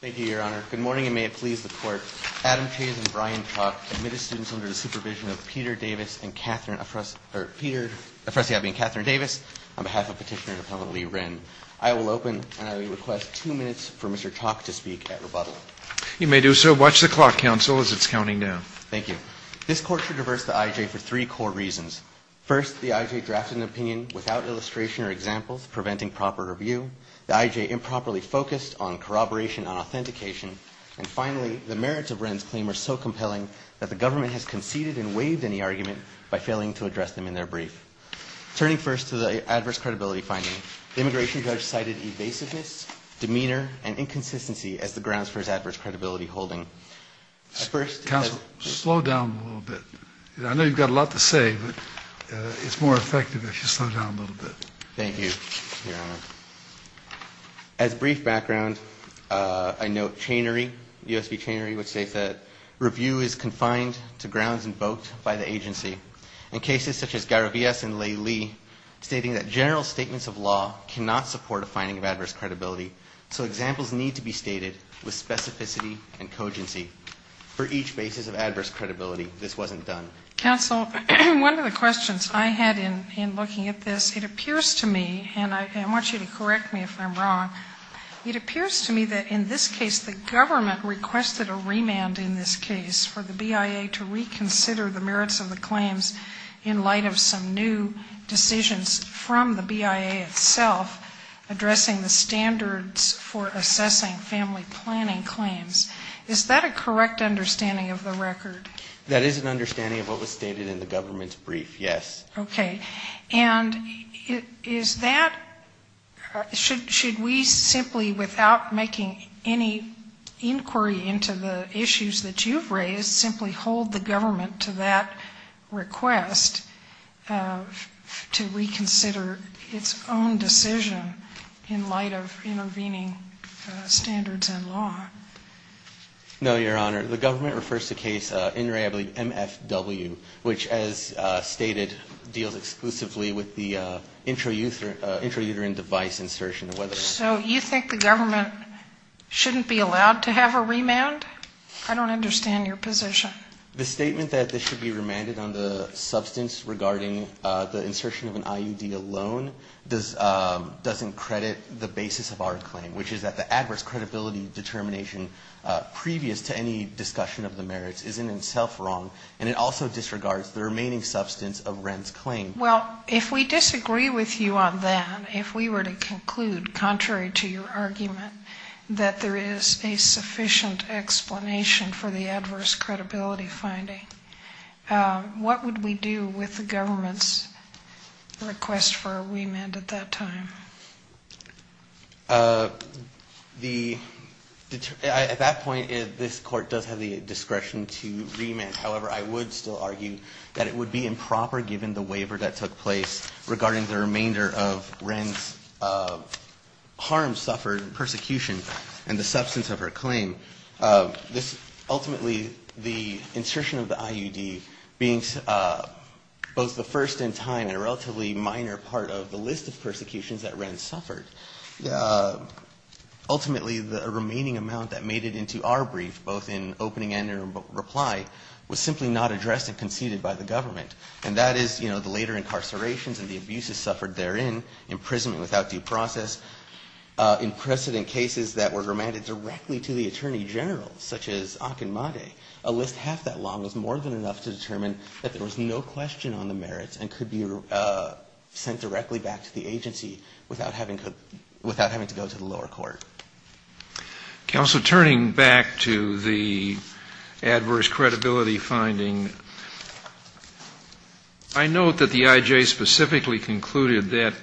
Thank you, Your Honor. Good morning, and may it please the Court. Adam Chayes and Brian Chalk admitted students under the supervision of Peter Afresiabi and Catherine Davis on behalf of Petitioner-Appellant Lee Wren. I will open, and I request two minutes for Mr. Chalk to speak at rebuttal. You may do so. Watch the clock, Counsel, as it's counting down. Thank you. This Court should reverse the I.J. for three core reasons. First, the I.J. drafted an opinion without illustration or examples, preventing proper review. The I.J. improperly focused on corroboration and authentication. And finally, the merits of Wren's claim are so compelling that the government has conceded and waived any argument by failing to address them in their brief. Turning first to the adverse credibility finding, the immigration judge cited evasiveness, demeanor, and inconsistency as the grounds for his adverse credibility holding. Counsel, slow down a little bit. I know you've got a lot to say, but it's more effective if you slow down a little bit. Thank you, Your Honor. As brief background, I note Chanery, U.S. v. Chanery, which states that review is confined to grounds invoked by the agency. In cases such as Garavias and Lee, stating that general statements of law cannot support a finding of adverse credibility, so examples need to be stated with specificity and cogency. For each basis of adverse credibility, this wasn't done. Counsel, one of the questions I had in looking at this, it appears to me, and I want you to correct me if I'm wrong, it appears to me that in this case the government requested a remand in this case for the BIA to reconsider the merits of the claims in light of some new decisions from the BIA itself addressing the standards for assessing family planning claims. Is that a correct understanding of the record? That is an understanding of what was stated in the government's brief, yes. Okay. And is that, should we simply, without making any inquiry into the issues that you've raised, simply hold the government to that request to reconsider its own decision in light of intervening standards and law? No, Your Honor. The government refers to case, I believe, MFW, which as stated deals exclusively with the intrauterine device insertion. So you think the government shouldn't be allowed to have a remand? I don't understand your position. The statement that this should be remanded on the substance regarding the insertion of an IUD alone doesn't credit the basis of our claim, which is that the adverse credibility determination previous to any discussion of the merits isn't itself wrong, and it also disregards the remaining substance of Wren's claim. Well, if we disagree with you on that, if we were to conclude, contrary to your argument, that there is a sufficient explanation for the adverse credibility finding, what would we do with the government's request for a remand at that time? At that point, this Court does have the discretion to remand. However, I would still argue that it would be improper, given the waiver that took place regarding the remainder of Wren's harm suffered, persecution, and the substance of her claim. Ultimately, the insertion of the IUD being both the first in time and a relatively minor part of the list of persecutions that Wren suffered, ultimately the remaining amount that made it into our brief, both in opening and in reply, was simply not addressed and conceded by the government. And that is, you know, the later incarcerations and the abuses suffered therein, imprisonment without due process, in precedent cases that were remanded directly to the attorney general, such as Akinmade, a list half that long was more than enough to determine that there was no question on the merits and could be sent directly back to the agency without having to go to the lower court. Counsel, turning back to the adverse credibility finding, I note that the IJ specifically concluded that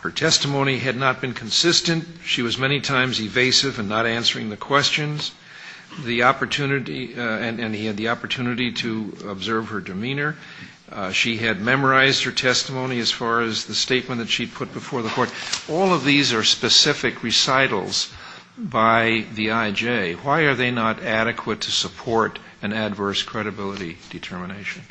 her testimony had not been consistent. She was many times evasive and not answering the questions. The opportunity, and he had the opportunity to observe her demeanor. She had memorized her testimony as far as the statement that she put before the court. All of these are specific recitals by the IJ. Why are they not adequate to support an adverse credibility determination?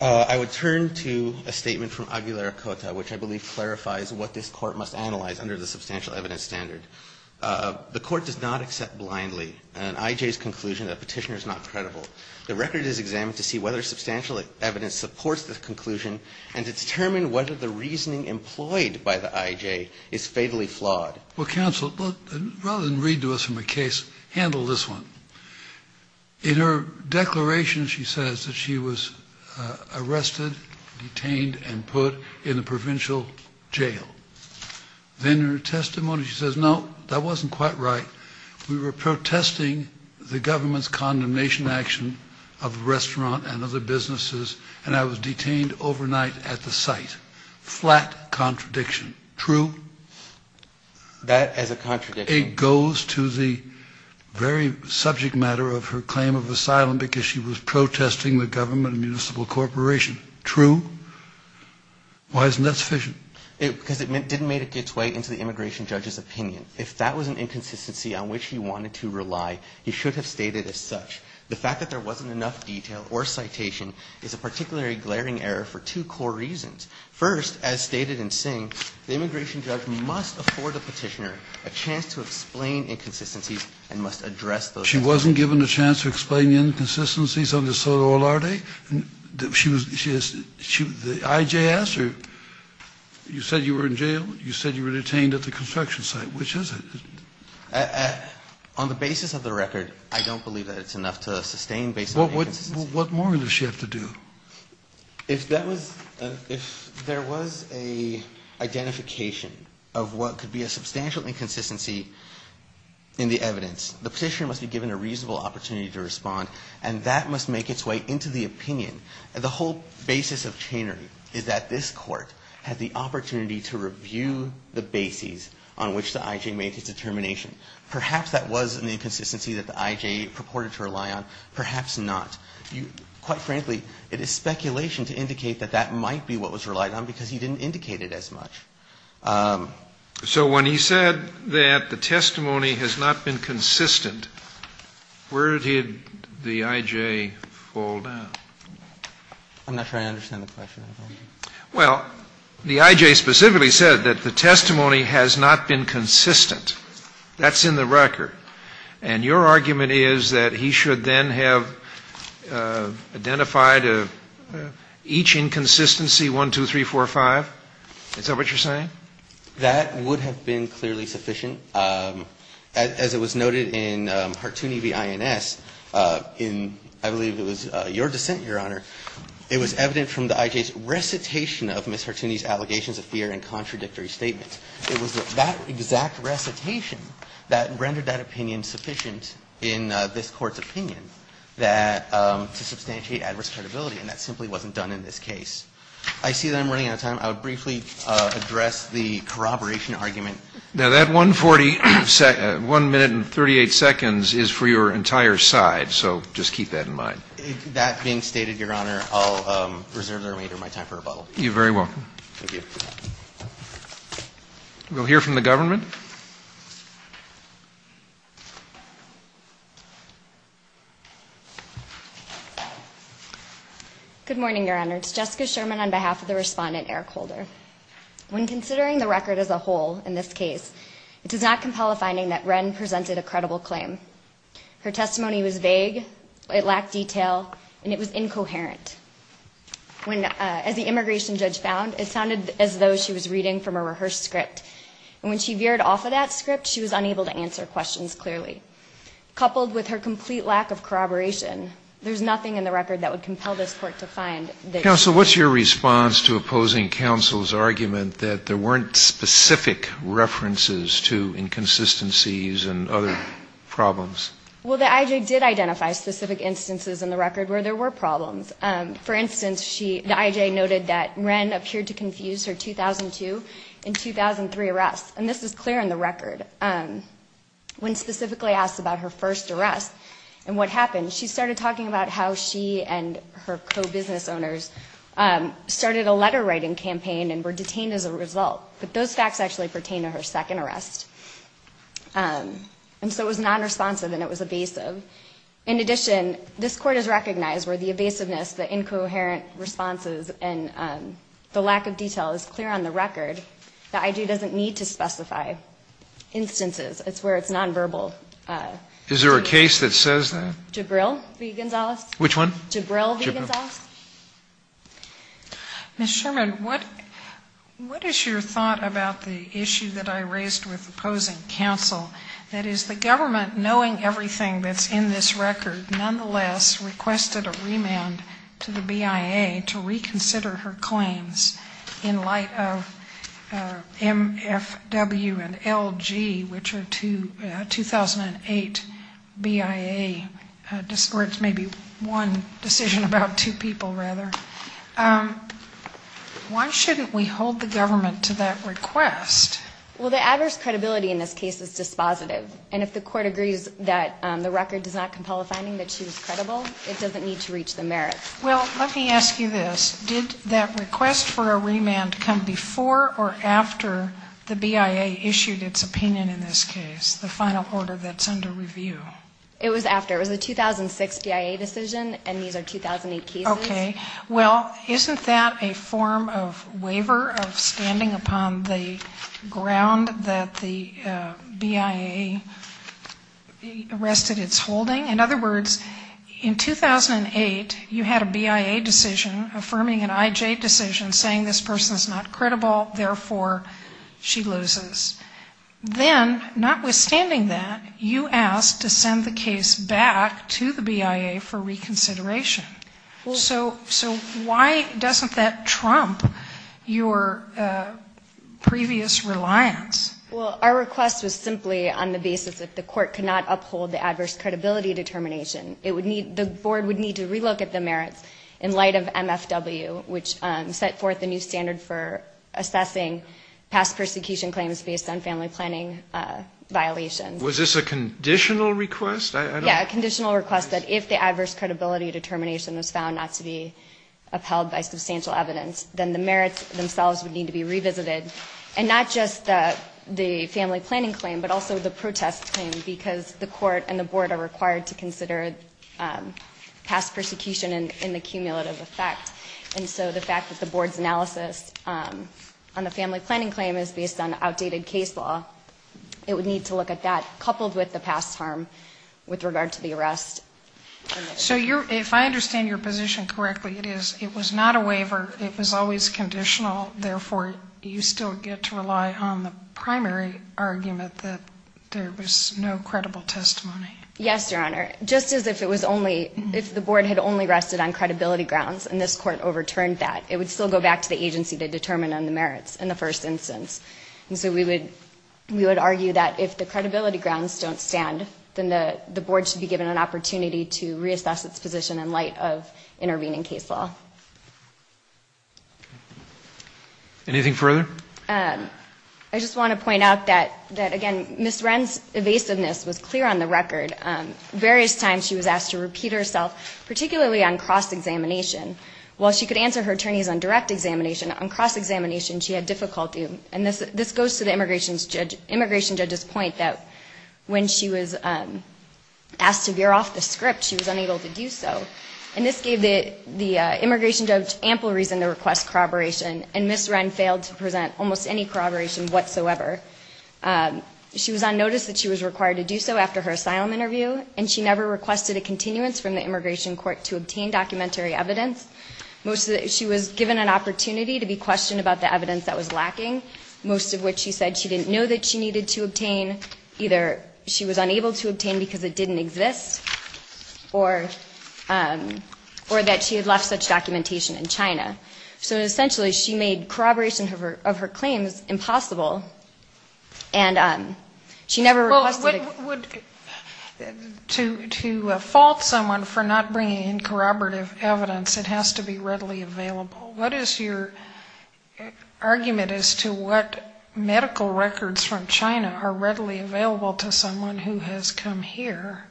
I would turn to a statement from Aguilera-Cota, which I believe clarifies what this Court must analyze under the substantial evidence standard. The Court does not accept blindly an IJ's conclusion that a petitioner is not credible. The record is examined to see whether substantial evidence supports the conclusion and to determine whether the reasoning employed by the IJ is fatally flawed. Well, counsel, rather than read to us from a case, handle this one. In her declaration, she says that she was arrested, detained, and put in a provincial jail. Then in her testimony, she says, no, that wasn't quite right. We were protesting the government's condemnation action of a restaurant and other businesses, and I was detained overnight at the site. Flat contradiction. True? That as a contradiction? It goes to the very subject matter of her claim of asylum because she was protesting the government and municipal corporation. True? Why isn't that sufficient? Because it didn't make its way into the immigration judge's opinion. If that was an inconsistency on which he wanted to rely, you should have stated as such. The fact that there wasn't enough detail or citation is a particularly glaring error for two core reasons. First, as stated in Singh, the immigration judge must afford the petitioner a chance to explain inconsistencies and must address those inconsistencies. She wasn't given a chance to explain the inconsistencies under Soto Olarte? The IJ asked her, you said you were in jail, you said you were detained at the construction site, which is it? On the basis of the record, I don't believe that it's enough to sustain based on inconsistencies. What more does she have to do? If that was – if there was an identification of what could be a substantial inconsistency in the evidence, the petitioner must be given a reasonable opportunity to respond, and that must make its way into the opinion. The whole basis of Chainery is that this Court had the opportunity to review the bases on which the IJ made its determination. Perhaps that was an inconsistency that the IJ purported to rely on, perhaps not. Quite frankly, it is speculation to indicate that that might be what was relied on because he didn't indicate it as much. Scalia. So when he said that the testimony has not been consistent, where did the IJ fall down? I'm not sure I understand the question. Well, the IJ specifically said that the testimony has not been consistent. That's in the record. And your argument is that he should then have identified each inconsistency, 1, 2, 3, 4, 5? Is that what you're saying? That would have been clearly sufficient. As it was noted in Hartoon v. INS, in I believe it was your dissent, Your Honor, it was evident from the IJ's recitation of Ms. Hartooni's allegations of fear and contradictory statements. It was that exact recitation that rendered that opinion sufficient in this Court's opinion that to substantiate adverse credibility, and that simply wasn't done in this case. I see that I'm running out of time. I would briefly address the corroboration argument. Now, that 1 minute and 38 seconds is for your entire side, so just keep that in mind. That being stated, Your Honor, I'll reserve the remainder of my time for rebuttal. You're very welcome. Thank you. We'll hear from the government. Good morning, Your Honor. It's Jessica Sherman on behalf of the Respondent, Eric Holder. When considering the record as a whole in this case, it does not compel a finding that Wren presented a credible claim. Her testimony was vague. It lacked detail. And it was incoherent. As the immigration judge found, it sounded as though she was reading from a rehearsed script. And when she veered off of that script, she was unable to answer questions clearly. Coupled with her complete lack of corroboration, there's nothing in the record that would compel this Court to find that she was wrong. Counsel, what's your response to opposing counsel's argument that there weren't specific references to inconsistencies and other problems? Well, the I.J. did identify specific instances in the record where there were problems. For instance, the I.J. noted that Wren appeared to confuse her 2002 and 2003 arrests. And this is clear in the record. When specifically asked about her first arrest and what happened, she started talking about how she and her co-business owners started a letter-writing campaign and were detained as a result. But those facts actually pertain to her second arrest. And so it was nonresponsive and it was evasive. In addition, this Court has recognized where the evasiveness, the incoherent responses and the lack of detail is clear on the record. The I.J. doesn't need to specify instances. It's where it's nonverbal. Is there a case that says that? Jabril v. Gonzales. Which one? Jabril v. Gonzales. Ms. Sherman, what is your thought about the issue that I raised with the opposing counsel? That is, the government, knowing everything that's in this record, nonetheless requested a remand to the BIA to reconsider her claims in light of MFW and LG, which are a 2008 BIA, or it's maybe one decision about two people, rather. Why shouldn't we hold the government to that request? Well, the adverse credibility in this case is dispositive. And if the Court agrees that the record does not compel a finding that she was credible, it doesn't need to reach the merits. Well, let me ask you this. Did that request for a remand come before or after the BIA issued its opinion in this case, the final order that's under review? It was after. It was a 2006 BIA decision and these are 2008 cases. Okay. Well, isn't that a form of waiver of standing upon the ground that the BIA arrested its holding? In other words, in 2008 you had a BIA decision affirming an IJ decision saying this person's not credible, therefore she loses. Then, notwithstanding that, you asked to send the case back to the BIA for reconsideration. So why doesn't that trump your previous reliance? Well, our request was simply on the basis that the Court could not uphold the adverse credibility determination. The Board would need to relook at the merits in light of MFW, which set forth a new standard for assessing past persecution claims based on family planning violations. Was this a conditional request? Yeah, a conditional request that if the adverse credibility determination was found not to be upheld by substantial evidence, then the merits themselves would need to be revisited. And not just the family planning claim, but also the protest claim, because the Court and the Board are required to consider past persecution and the cumulative effect. And so the fact that the Board's analysis on the family planning claim is based on outdated case law, it would need to look at that, with regard to the arrest. So if I understand your position correctly, it is it was not a waiver, it was always conditional, therefore you still get to rely on the primary argument that there was no credible testimony. Yes, Your Honor. Just as if the Board had only rested on credibility grounds and this Court overturned that, it would still go back to the agency to determine on the merits in the first instance. And so we would argue that if the credibility grounds don't stand, then the Board should be given an opportunity to reassess its position in light of intervening case law. Anything further? I just want to point out that, again, Ms. Wren's evasiveness was clear on the record. Various times she was asked to repeat herself, particularly on cross-examination. While she could answer her attorneys on direct examination, on cross-examination she had difficulty. And this goes to the immigration judge's point that when she was asked to veer off the script, she was unable to do so. And this gave the immigration judge ample reason to request corroboration, and Ms. Wren failed to present almost any corroboration whatsoever. She was on notice that she was required to do so after her asylum interview, and she never requested a continuance from the immigration court to obtain documentary evidence. She was given an opportunity to be questioned about the evidence that was lacking, most of which she said she didn't know that she needed to obtain. Either she was unable to obtain because it didn't exist, or that she had left such documentation in China. So essentially she made corroboration of her claims impossible, and she never requested it. To fault someone for not bringing in corroborative evidence, it has to be readily available. It has to be readily available to someone who has come here.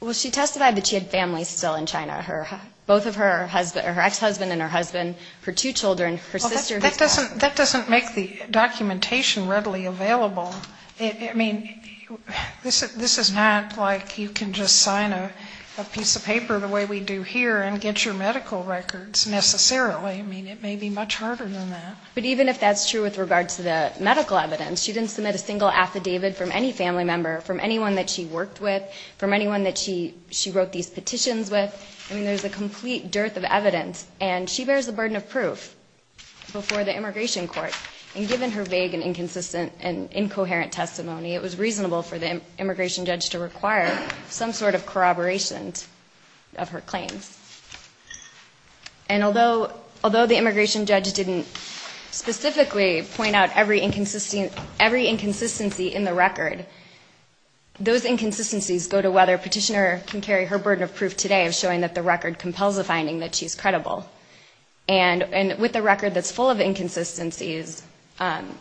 Well, she testified that she had family still in China. Both of her ex-husband and her husband, her two children, her sister. That doesn't make the documentation readily available. I mean, this is not like you can just sign a piece of paper the way we do here and get your medical records necessarily. I mean, it may be much harder than that. But even if that's true with regard to the medical evidence, she didn't submit a single affidavit from any family member, from anyone that she worked with, from anyone that she wrote these petitions with. I mean, there's a complete dearth of evidence. And she bears the burden of proof before the immigration court. And given her vague and inconsistent and incoherent testimony, it was reasonable for the immigration judge to require some sort of corroboration of her claims. And although the immigration judge didn't specifically point out every inconsistency in the record, those inconsistencies go to whether a petitioner can carry her burden of proof today of showing that the record compels a finding that she's credible. And with a record that's full of inconsistencies,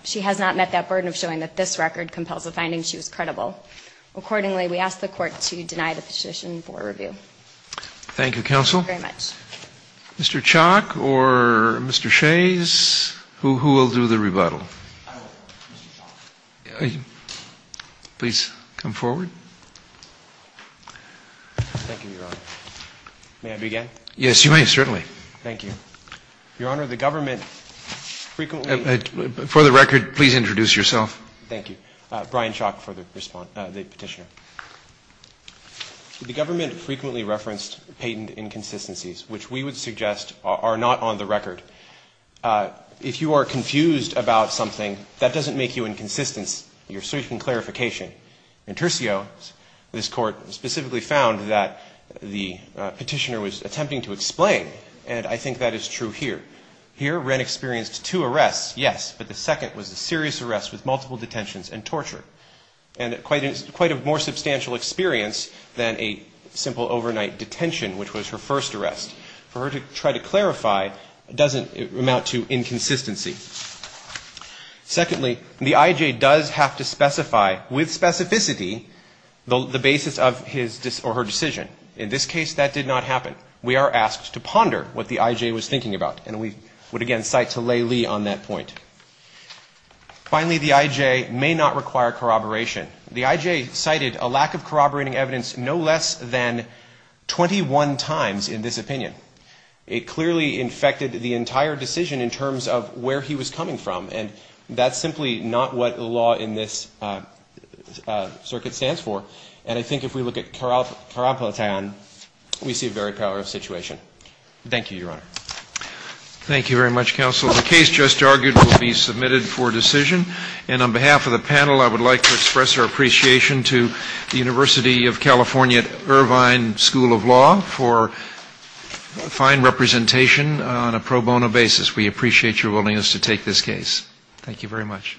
she has not met that burden of showing that this record compels a finding she was credible. Accordingly, we ask the court to deny the petition for review. Thank you, counsel. Thank you very much. Mr. Chalk or Mr. Shays? Who will do the rebuttal? I will. Mr. Chalk. Please come forward. Thank you, Your Honor. May I begin? Yes, you may, certainly. Thank you. Your Honor, the government frequently... For the record, please introduce yourself. Thank you. Brian Chalk for the petitioner. The government frequently referenced patent inconsistencies, which we would suggest are not on the record. If you are confused about something, that doesn't make you inconsistent. You're seeking clarification. In Tercio, this Court specifically found that the petitioner was attempting to explain, and I think that is true here. Here, Wren experienced two arrests, yes, but the second was a serious arrest with multiple detentions and torture. And quite a more substantial experience than a simple overnight detention, which was her first arrest. For her to try to clarify doesn't amount to inconsistency. Secondly, the I.J. does have to specify, with specificity, the basis of his or her decision. In this case, that did not happen. We are asked to ponder what the I.J. was thinking about, and we would again cite to Lei Lee on that point. Finally, the I.J. may not require corroboration. The I.J. cited a lack of corroborating evidence no less than 21 times in this opinion. It clearly infected the entire decision in terms of where he was coming from, and that's simply not what the law in this circuit stands for. And I think if we look at Carapeletan, we see a very powerful situation. Thank you, Your Honor. Thank you very much, Counsel. The case just argued will be submitted for decision. And on behalf of the panel, I would like to express our appreciation to the University of California at Irvine School of Law for fine representation on a pro bono basis. We appreciate your willingness to take this case. Thank you very much.